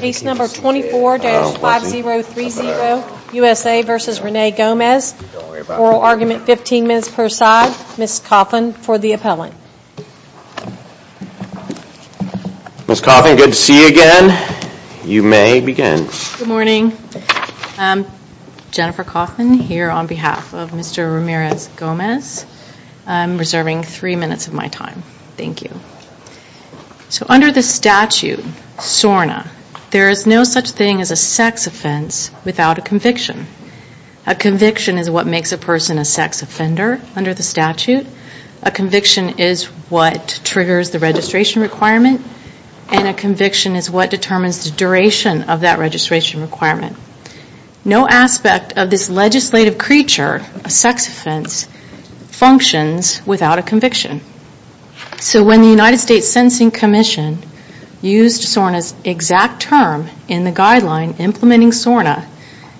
Case number 24-5030, USA v. Rene Gomez, oral argument 15 minutes per side. Ms. Coffin for the appellant. Ms. Coffin, good to see you again. You may begin. Good morning. Jennifer Coffin here on behalf of Mr. Ramirez Gomez. I'm reserving three minutes of my time. Thank There is no such thing as a sex offense without a conviction. A conviction is what makes a person a sex offender under the statute. A conviction is what triggers the registration requirement. And a conviction is what determines the duration of that registration requirement. No aspect of this legislative creature, a sex offense, functions without a conviction. So when the United States Sentencing Commission used SORNA's exact term in the guideline implementing SORNA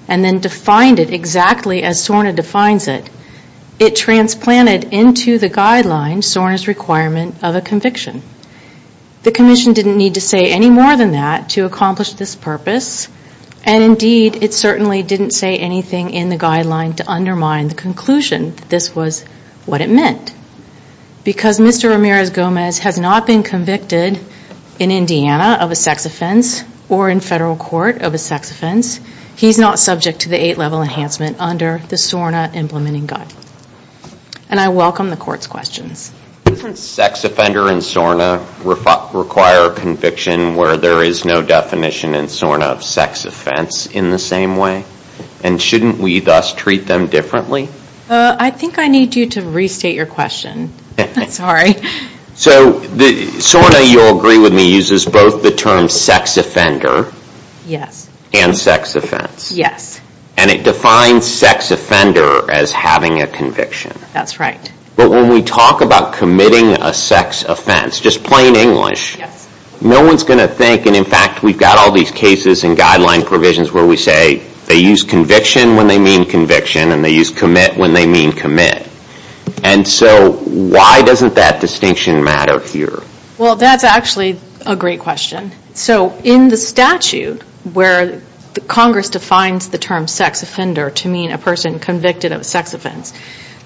and then defined it exactly as SORNA defines it, it transplanted into the guideline SORNA's requirement of a conviction. The commission didn't need to say any more than that to accomplish this purpose and indeed it certainly didn't say anything in the guideline to undermine the conclusion that this was what it meant. Because Mr. Ramirez Gomez has not been convicted in Indiana of a sex offense or in federal court of a sex offense, he's not subject to the eight level enhancement under the SORNA implementing guideline. And I welcome the court's questions. Doesn't sex offender and SORNA require a conviction where there is no definition in SORNA of sex offense in the same way? And shouldn't we thus treat them differently? I think I need you to restate your question. Sorry. So SORNA, you'll agree with me, uses both the term sex offender and sex offense. And it defines sex offender as having a conviction. That's right. But when we talk about committing a sex offense, just plain English, no one's going to think and in fact we've got all these cases and guideline provisions where we say they use conviction when they mean conviction and they use commit when they mean commit. And so why doesn't that distinction matter here? Well that's actually a great question. So in the statute where Congress defines the term sex offender to mean a person convicted of a sex offense,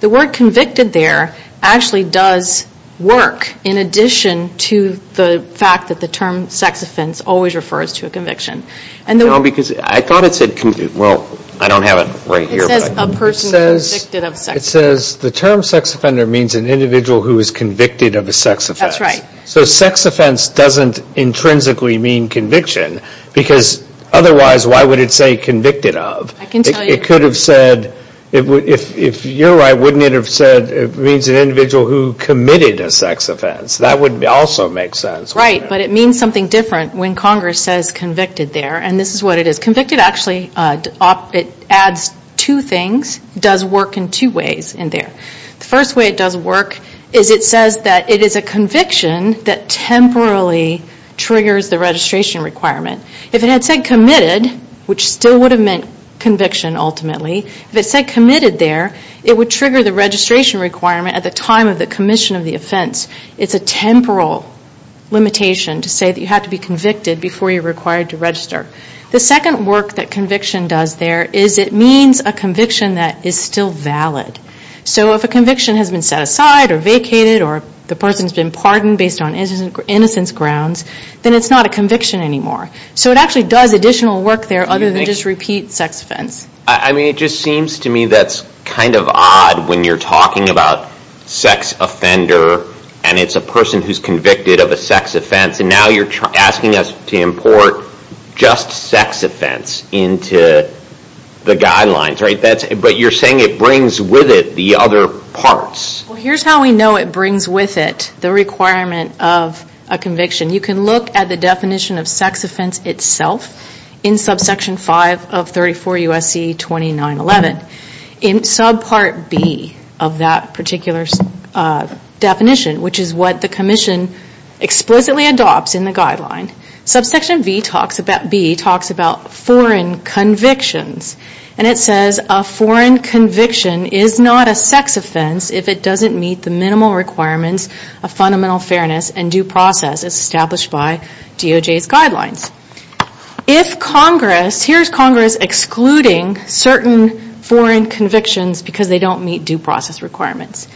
the word convicted there actually does work in addition to the fact that the term sex offense always refers to a conviction. No, because I thought it said convict. Well, I don't have it right here. It says a person convicted of sex offense. It says the term sex offender means an individual who is convicted of a sex offense. That's right. So sex offense doesn't intrinsically mean conviction because otherwise why would it say convicted of? I can tell you. It could have said, if you're right, wouldn't it have said it means an individual who committed a sex offense? That would also make sense. That's right, but it means something different when Congress says convicted there and this is what it is. Convicted actually adds two things, does work in two ways in there. The first way it does work is it says that it is a conviction that temporarily triggers the registration requirement. If it had said committed, which still would have meant conviction ultimately, if it said committed there, it would trigger the registration requirement at the time of the commission of the offense. It's a temporal limitation to say that you have to be convicted before you're required to register. The second work that conviction does there is it means a conviction that is still valid. So if a conviction has been set aside or vacated or the person's been pardoned based on innocence grounds, then it's not a conviction anymore. So it actually does additional work there other than just repeat sex offense. It just seems to me that's kind of odd when you're talking about sex offender and it's a person who's convicted of a sex offense and now you're asking us to import just sex offense into the guidelines. But you're saying it brings with it the other parts. Here's how we know it brings with it the requirement of a conviction. You can look at the definition of sex offense itself in subsection 5 of 34 U.S.C. 2911. In subpart B of that particular definition, which is what the commission explicitly adopts in the guideline, subsection B talks about foreign convictions. And it says a foreign conviction is not a sex offense if it doesn't meet the minimal requirements of fundamental fairness and due process as established by DOJ's guidelines. If Congress, here's Congress excluding certain foreign convictions because they don't meet due process requirements.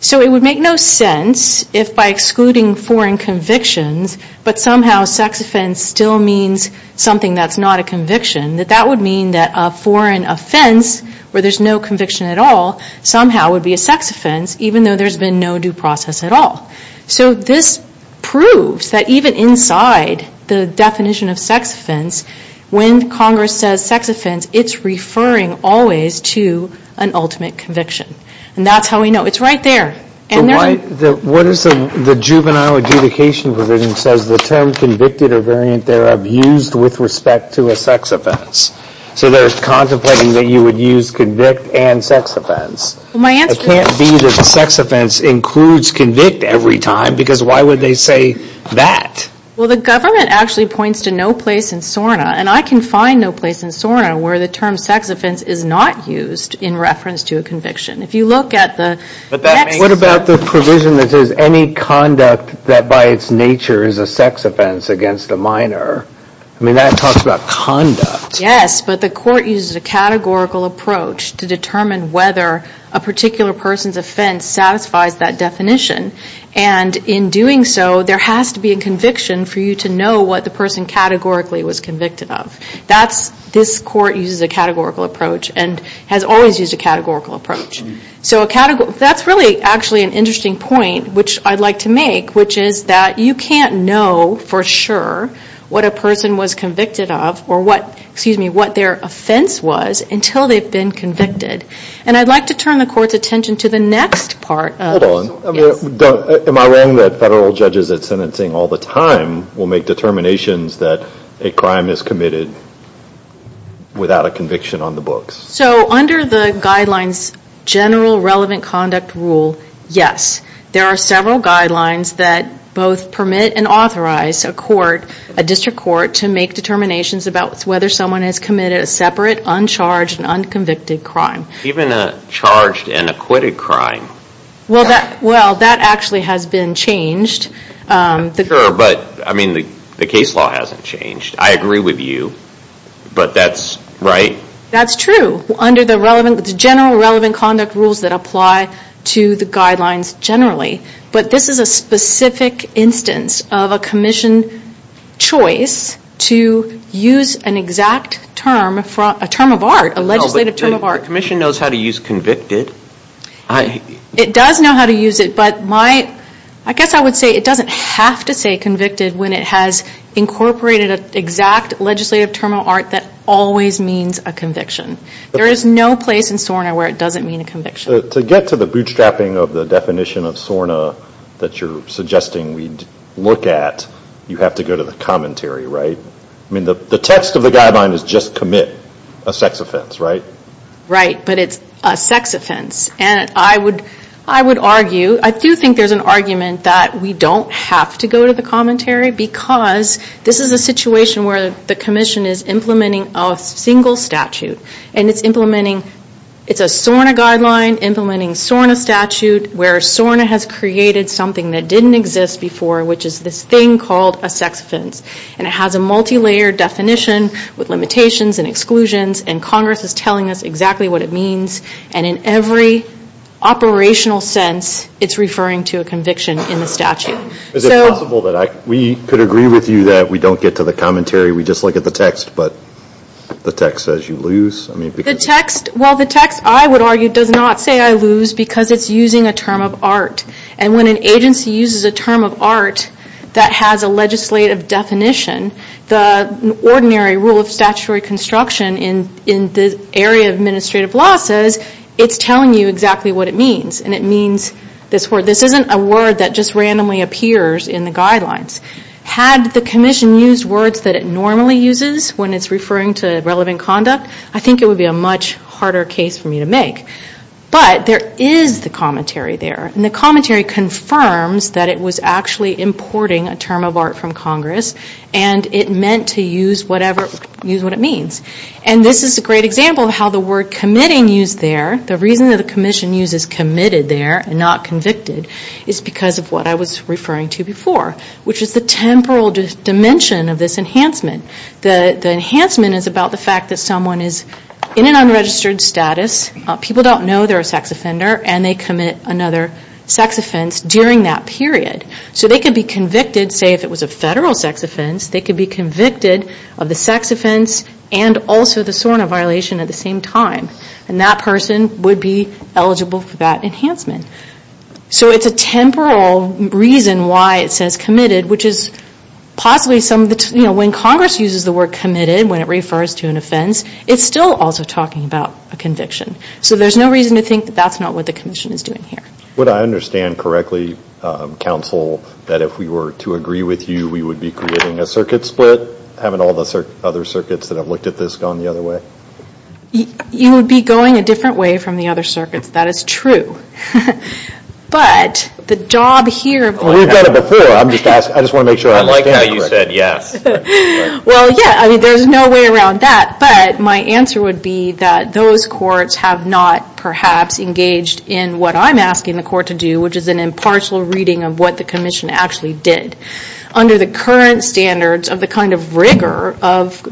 So it would make no sense if by excluding foreign convictions but somehow sex offense still means something that's not a conviction, that that would mean that a foreign offense where there's no conviction at all somehow would be a sex offense even though there's been no due process at all. So this proves that even inside the definition of sex offense, when Congress says sex offense, it's referring always to an ultimate conviction. And that's how we know. It's right there. So why, what is the juvenile adjudication provision says the term convicted or variant thereof used with respect to a sex offense? So there's contemplating that you would use convict and sex offense. It can't be that sex offense includes convict every time because why would they say that? Well, the government actually points to no place in SORNA and I can find no place in SORNA where the term sex offense is not used in reference to a conviction. If you look at the... What about the provision that says any conduct that by its nature is a sex offense against a minor? I mean, that talks about conduct. Yes, but the court uses a categorical approach to determine whether a particular person's offense satisfies that definition. And in doing so, there has to be a conviction for you to know what the person categorically was convicted of. That's, this court uses a categorical approach and has always used a categorical approach. So a category, that's really actually an interesting point, which I'd like to make, which is that you can't know for sure what a person was convicted of or what, excuse me, what their offense was until they've been convicted. And I'd like to turn the court's attention to the next part of... Hold on. Am I wrong that federal judges that's sentencing all the time will make determinations that a crime is committed without a conviction on the books? So under the guidelines, general relevant conduct rule, yes. There are several guidelines that both permit and authorize a court, a district court, to make determinations about whether someone has committed a separate, uncharged, and unconvicted crime. Even a charged and acquitted crime. Well, that actually has been changed. Sure, but I mean, the case law hasn't changed. I agree with you, but that's, right? That's true. Under the relevant, the general relevant conduct rules that apply to the guidelines generally, but this is a specific instance of a commission choice to use an exact term, a term of art, a legislative term of art. The commission knows how to use convicted. It does know how to use it, but my, I guess I would say it doesn't have to say convicted when it has incorporated an exact legislative term of art that always means a conviction. There is no place in SORNA where it doesn't mean a conviction. To get to the bootstrapping of the definition of SORNA that you're suggesting we look at, you have to go to the commentary, right? I mean, the text of the guideline is just commit a sex offense, right? Right, but it's a sex offense, and I would argue, I do think there's an argument that we don't have to go to the commentary because this is a situation where the commission is implementing a single statute, and it's implementing, it's a SORNA guideline implementing SORNA statute where SORNA has created something that didn't exist before, which is this thing called a sex offense, and it has a multi-layered definition with limitations and exclusions, and Congress is telling us exactly what it means, and in every operational sense it's referring to a conviction in the statute. Is it possible that we could agree with you that we don't get to the commentary, we just look at the text, but the text says you lose? The text, well, the text, I would argue, does not say I lose because it's using a term of art, and when an agency uses a term of art that has a legislative definition, the ordinary rule of statutory construction in the area of administrative law says it's telling you exactly what it means, and it means this word. This isn't a word that just randomly appears in the guidelines. Had the commission used words that it normally uses when it's referring to relevant conduct, I think it would be a much harder case for me to make, but there is the commentary there, and the commentary confirms that it was actually importing a term of art from Congress, and it meant to use whatever, use what it means, and this is a great example of how the word committing used there, the reason that the commission uses committed there and not convicted is because of what I was referring to before, which is the temporal dimension of this enhancement. The enhancement is about the fact that someone is in an unregistered status, people don't know they're a sex offender, and they commit another sex offense during that period. So they could be convicted, say if it was a federal sex offense, they could be convicted of the sex offense and also the SORNA violation at the same time, and that person would be eligible for that enhancement. So it's a temporal reason why it says committed, which is possibly some of the, you know, when Congress uses the word committed, when it refers to an offense, it's still also talking about a conviction. So there's no reason to think that that's not what the commission is doing here. Would I understand correctly, counsel, that if we were to agree with you, we would be creating a circuit split, having all the other circuits that have looked at this gone the other way? You would be going a different way from the other circuits. That is true. But the job here of the- We've done it before. I'm just asking. I just want to make sure I understand correctly. I like how you said yes. Well, yeah. I mean, there's no way around that, but my answer would be that those courts have not perhaps engaged in what I'm asking the court to do, which is an impartial reading of what the commission actually did. Under the current standards of the kind of rigor of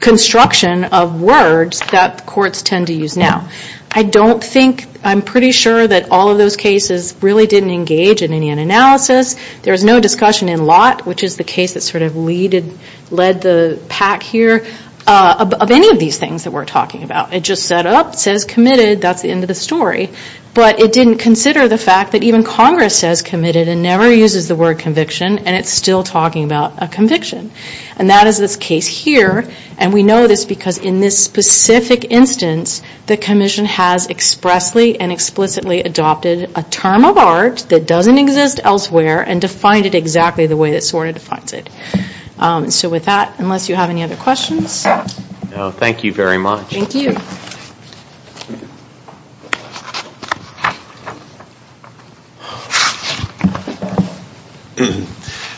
construction of words that the courts tend to use now. I don't think, I'm pretty sure that all of those cases really didn't engage in any analysis. There's no discussion in Lott, which is the case that sort of led the pack here, of any of these things that we're talking about. It just set up, says committed, that's the end of the story. But it didn't consider the fact that even Congress says committed and never uses the word conviction, and it's still talking about a conviction. And that is this case here, and we know this because in this specific instance, the commission has expressly and explicitly adopted a term of art that doesn't exist elsewhere and defined it exactly the way that SORTA defines it. So with that, unless you have any other questions? Thank you very much. Thank you.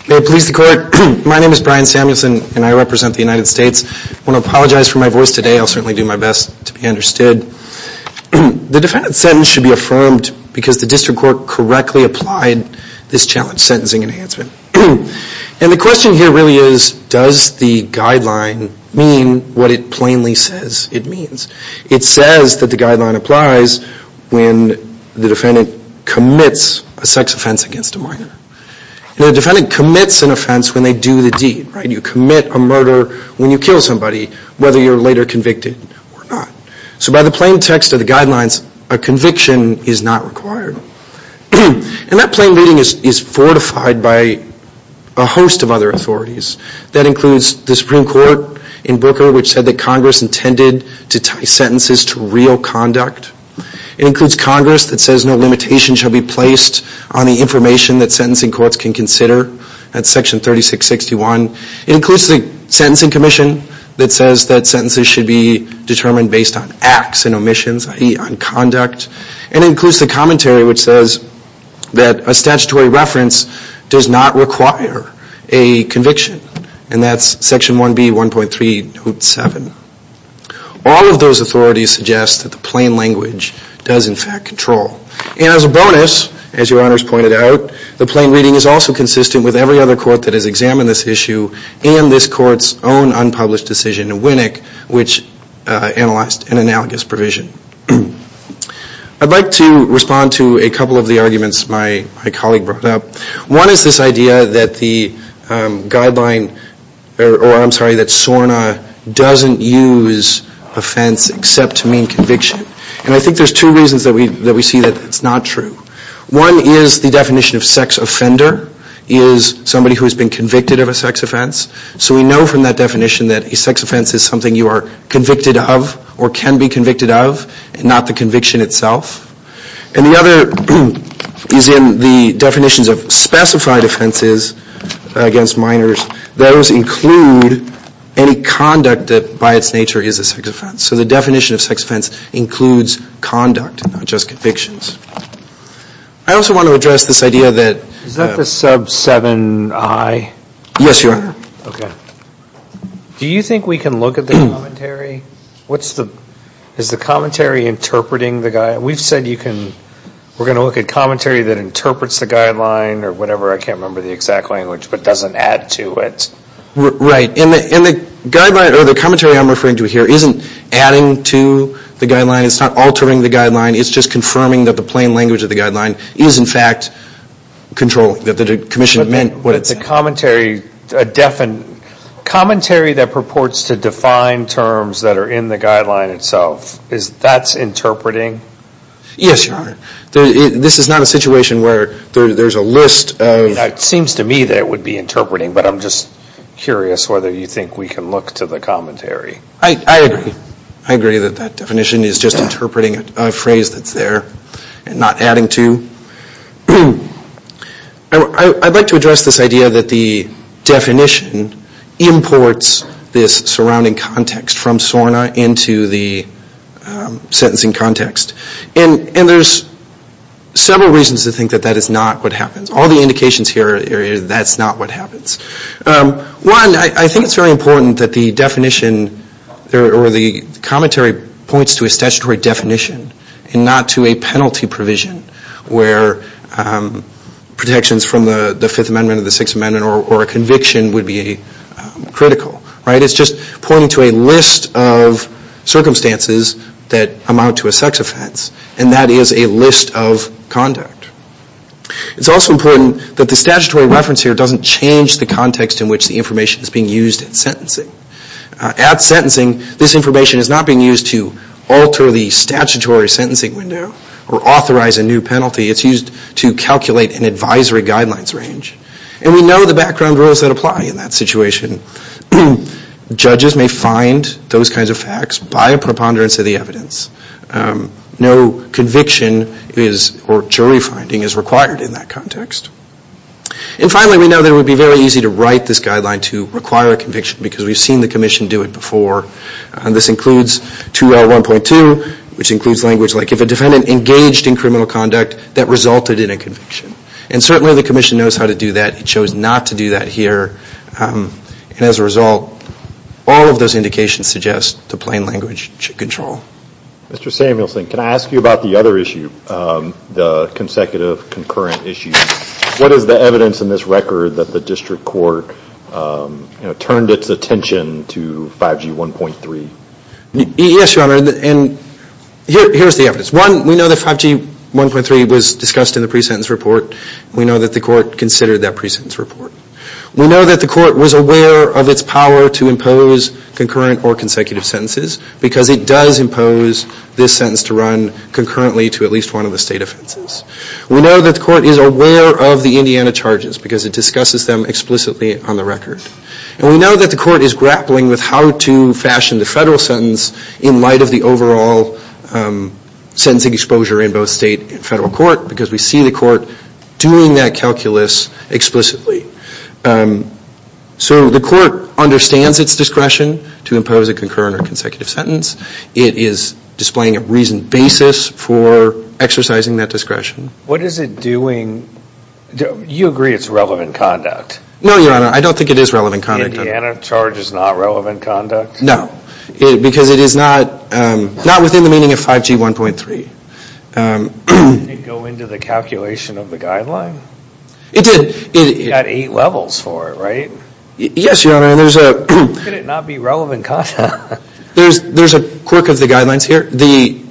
May it please the court. My name is Brian K. Samuelson, and I represent the United States. I want to apologize for my voice today. I'll certainly do my best to be understood. The defendant's sentence should be affirmed because the district court correctly applied this challenge, sentencing enhancement. And the question here really is, does the guideline mean what it plainly says it means? It says that the guideline applies when the defendant commits a sex offense against a defendant. And the defendant commits an offense when they do the deed, right? You commit a murder when you kill somebody, whether you're later convicted or not. So by the plain text of the guidelines, a conviction is not required. And that plain reading is fortified by a host of other authorities. That includes the Supreme Court in Booker, which said that Congress intended to tie sentences to real conduct. It includes Congress that says no limitation shall be placed on the information that sentencing courts can consider. That's Section 3661. It includes the Sentencing Commission that says that sentences should be determined based on acts and omissions, i.e. on conduct. And it includes the commentary which says that a statutory reference does not require a conviction. And that's Section 1B, 1.3.7. All of those authorities suggest that the plain language does in fact control. And as a bonus, as your honors pointed out, the plain reading is also consistent with every other court that has examined this issue and this court's own unpublished decision in Winnick, which analyzed an analogous provision. I'd like to respond to a couple of the arguments my colleague brought up. One is this idea that the guideline, or I'm sorry, that SORNA doesn't use offense except to mean conviction. And I think there's two reasons that we see that that's not true. One is the definition of sex offender is somebody who has been convicted of a sex offense. So we know from that definition that a sex offense is something you are convicted of or can be convicted of, not the conviction itself. And the other is in the definitions of specified offenses against minors. Those include any conduct that by its nature is a sex offense. So the definition of sex offense includes conduct, not just convictions. I also want to address this idea that. Is that the sub 7i? Yes, your honor. Okay. Do you think we can look at the commentary? What's the, is the commentary interpreting the guy? We've said you can, we're going to look at commentary that interprets the guideline or whatever, I can't remember the exact language, but doesn't add to it. Right. And the guideline, or the commentary I'm referring to here isn't adding to the guideline, it's not altering the guideline. It's just confirming that the plain language of the guideline is in fact control, that the commission meant what it said. The commentary, a definite, commentary that purports to define terms that are in the guideline itself, is that interpreting? Yes, your honor. This is not a situation where there's a list of. It seems to me that it would be interpreting, but I'm just curious whether you think we can look to the commentary. I agree. I agree that that definition is just interpreting a phrase that's there and not adding to. I'd like to address this idea that the definition imports this surrounding context from SORNA into the sentencing context. And there's several reasons to think that that is not what happens. All the indications here are that's not what happens. One, I think it's very important that the definition or the commentary points to a statutory definition and not to a penalty provision where protections from the Fifth Amendment or the Sixth Amendment or a conviction would be critical. It's just pointing to a list of circumstances that amount to a sex offense and that is a list of conduct. It's also important that the statutory reference here doesn't change the context in which the information is being used in sentencing. At sentencing, this information is not being used to alter the statutory sentencing window or authorize a new penalty. It's used to calculate an advisory guidelines range. And we know the background rules that apply in that situation. Judges may find those kinds of facts by a preponderance of the evidence. No conviction or jury finding is required in that context. And finally, we know that it would be very easy to write this guideline to require a conviction because we've seen the Commission do it before. This includes 2L1.2 which includes language like if a defendant engaged in criminal conduct that resulted in a conviction. And certainly the Commission knows how to do that. It chose not to do that here. And as a result, all of those indications suggest the plain language should control. Mr. Samuelson, can I ask you about the other issue, the consecutive concurrent issue? What is the evidence in this record that the District Court turned its attention to 5G1.3? Yes, Your Honor. And here's the evidence. One, we know that 5G1.3 was discussed in the pre-sentence report. We know that the court considered that pre-sentence report. We know that the court was aware of its power to impose concurrent or consecutive sentences because it does impose this sentence to run concurrently to at least one of the state offenses. We know that the court is aware of the Indiana charges because it discusses them explicitly on the record. And we know that the court is grappling with how to fashion the federal sentence in light of the overall sentencing exposure in both state and federal court because we see the court doing that calculus explicitly. So the court understands its discretion to impose a concurrent or consecutive sentence. It is displaying a reasoned basis for exercising that discretion. What is it doing? You agree it's relevant conduct. No, Your Honor, I don't think it is relevant conduct. Indiana charges not relevant conduct? No, because it is not within the meaning of 5G1.3. Did it go into the calculation of the guideline? It did. It got eight levels for it, right? Yes, Your Honor, and there's a... Could it not be relevant conduct? There's a quirk of the guidelines here.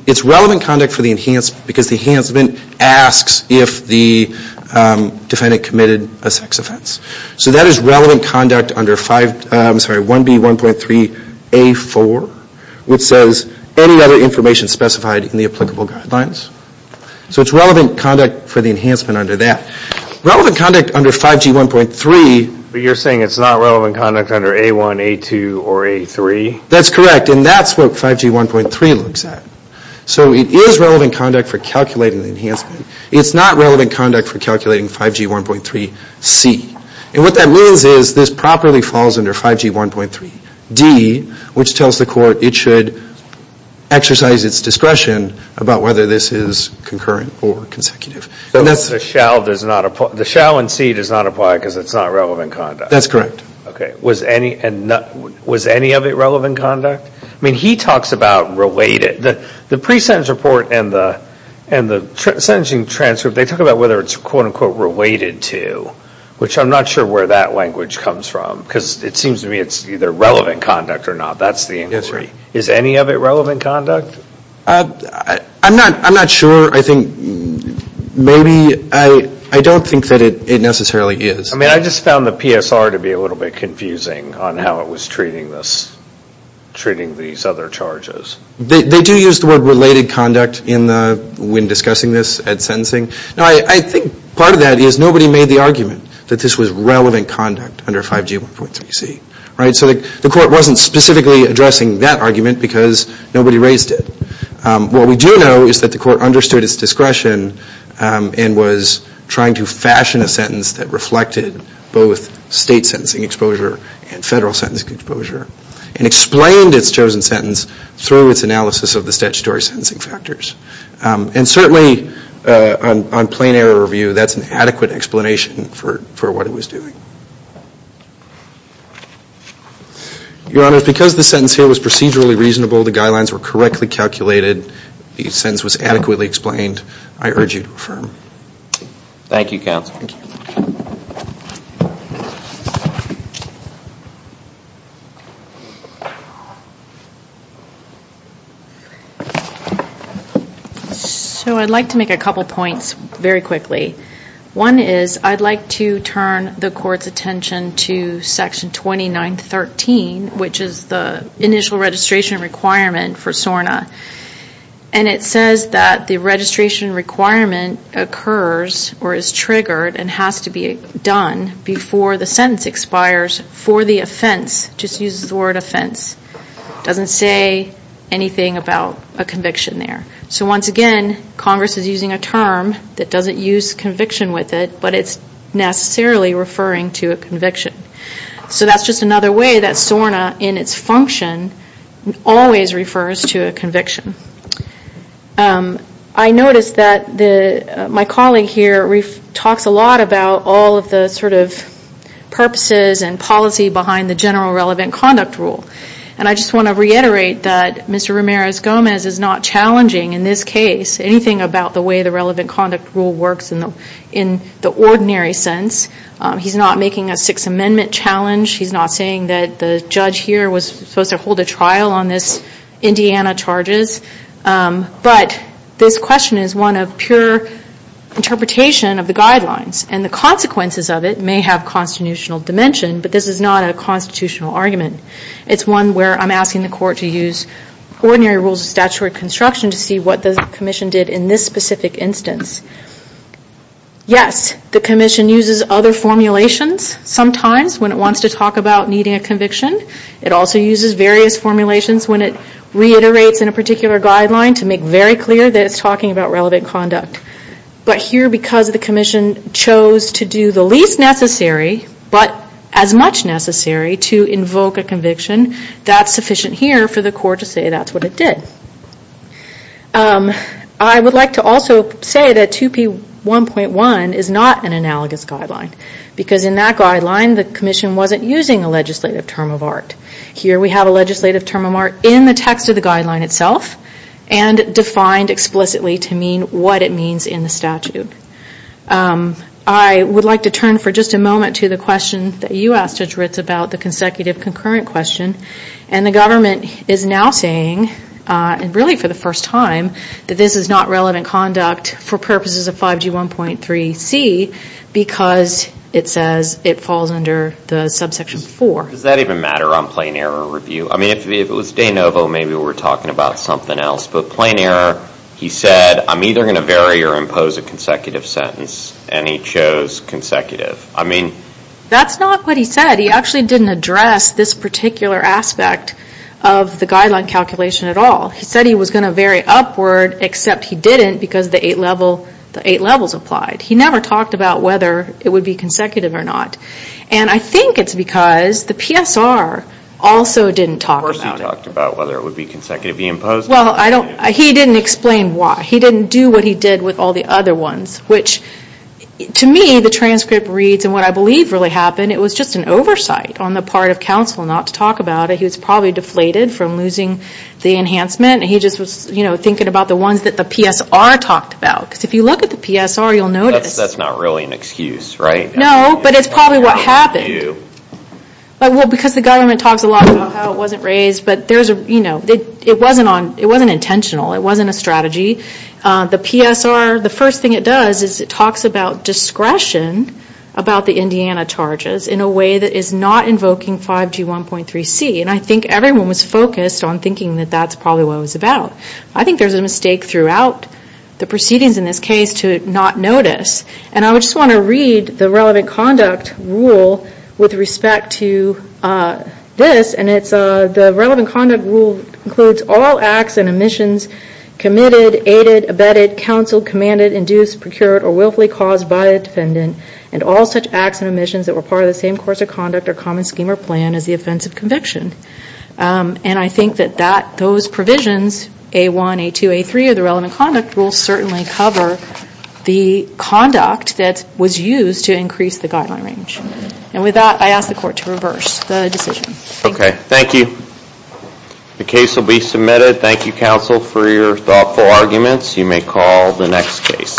It's relevant conduct because the enhancement asks if the defendant committed a sex offense. So that is relevant conduct under 5, I'm sorry, 1B1.3A4, which says any other information specified in the applicable guidelines. So it's relevant conduct for the enhancement under that. Relevant conduct under 5G1.3... But you're saying it's not relevant conduct under A1, A2, or A3? That's correct, and that's what 5G1.3 looks at. So it is relevant conduct for calculating the enhancement. It's not relevant conduct for calculating 5G1.3C, and what that means is this properly falls under 5G1.3D, which tells the court it should exercise its discretion about whether this is concurrent or consecutive. So the shall and C does not apply because it's not relevant conduct? That's correct. Okay, was any of it relevant conduct? I mean, he talks about related. The pre-sentence report and the sentencing transcript, they talk about whether it's, quote, unquote, related to, which I'm not sure where that language comes from because it seems to me it's either relevant conduct or not. That's the inquiry. Is any of it relevant conduct? I'm not sure. I think maybe, I don't think that it necessarily is. I mean, I just found the PSR to be a little bit confusing on how it was treating these other charges. They do use the word related conduct when discussing this at sentencing. I think part of that is nobody made the argument that this was relevant conduct under 5G1.3C, right? So the court wasn't specifically addressing that argument because nobody raised it. What we do know is that the court understood its discretion and was trying to fashion a sentence that reflected both state sentencing exposure and federal sentencing exposure and explained its chosen sentence through its analysis of the statutory sentencing factors. And certainly, on plain error review, that's an adequate explanation for what it was doing. Your Honor, because the sentence here was procedurally reasonable, the guidelines were correctly calculated, the sentence was adequately explained, I urge you to affirm. Thank you, counsel. So I'd like to make a couple points very quickly. One is I'd like to turn the court's attention to Section 2913, which is the initial registration requirement for SORNA. And it says that the registration requirement occurs or is triggered and has to be done before the sentence expires for the offense. Just uses the word offense. Doesn't say anything about a conviction there. So once again, Congress is using a term that doesn't use conviction with it, but it's necessarily referring to a conviction. So that's just another way that SORNA in its function always refers to a conviction. I noticed that my colleague here talks a lot about all of the sort of purposes and policy behind the general relevant conduct rule. And I just want to reiterate that Mr. Ramirez-Gomez is not challenging in this case anything about the way the relevant conduct rule works in the ordinary sense. He's not making a Sixth Amendment challenge. He's not saying that the judge here was supposed to hold a trial on this Indiana charges. But this question is one of pure interpretation of the guidelines. And the consequences of it may have constitutional dimension, but this is not a constitutional argument. It's one where I'm asking the court to use ordinary rules of statutory construction to see what the commission did in this specific instance. Yes, the commission uses other formulations sometimes when it wants to talk about needing a conviction. It also uses various formulations when it reiterates in a particular guideline to make very clear that it's talking about relevant conduct. But here because the commission chose to do the least necessary, but as much necessary to invoke a conviction, that's sufficient here for the court to say that's what it did. I would like to also say that 2P1.1 is not an analogous guideline. Because in that guideline the commission wasn't using a legislative term of art. Here we have a legislative term of art in the text of the guideline itself and defined explicitly to mean what it means in the statute. I would like to turn for just a moment to the question that you asked, Richard, about the consecutive concurrent question. And the government is now saying, and really for the first time, that this is not relevant conduct for purposes of 5G1.3C because it says it falls under the subsection 4. Does that even matter on plain error review? I mean if it was de novo maybe we're talking about something else. But plain error, he said, I'm either going to vary or impose a consecutive sentence. And he chose consecutive. I mean. That's not what he said. He actually didn't address this particular aspect of the guideline calculation at all. He said he was going to vary upward except he didn't because the eight levels applied. He never talked about whether it would be consecutive or not. And I think it's because the PSR also didn't talk about it. Of course he talked about whether it would be consecutive. Well, he didn't explain why. He didn't do what he did with all the other ones. Which, to me, the transcript reads, and what I believe really happened, it was just an oversight on the part of counsel not to talk about it. He was probably deflated from losing the enhancement. He just was, you know, thinking about the ones that the PSR talked about. Because if you look at the PSR you'll notice. That's not really an excuse, right? No, but it's probably what happened. Well, because the government talks a lot about how it wasn't raised. But there's a, you know, it wasn't intentional. It wasn't a strategy. The PSR, the first thing it does is it talks about discretion about the Indiana charges in a way that is not invoking 5G1.3C. And I think everyone was focused on thinking that that's probably what it was about. I think there's a mistake throughout the proceedings in this case to not notice. And I just want to read the relevant conduct rule with respect to this. And it's the relevant conduct rule includes all acts and omissions committed, aided, abetted, counseled, commanded, induced, procured, or willfully caused by a defendant and all such acts and omissions that were part of the same course of conduct or common scheme or plan as the offense of conviction. And I think that those provisions, A1, A2, A3, are the relevant conduct rules certainly cover the conduct that was used to increase the guideline range. And with that, I ask the court to reverse the decision. Okay. Thank you. The case will be submitted. Thank you, counsel, for your thoughtful arguments. You may call the next case.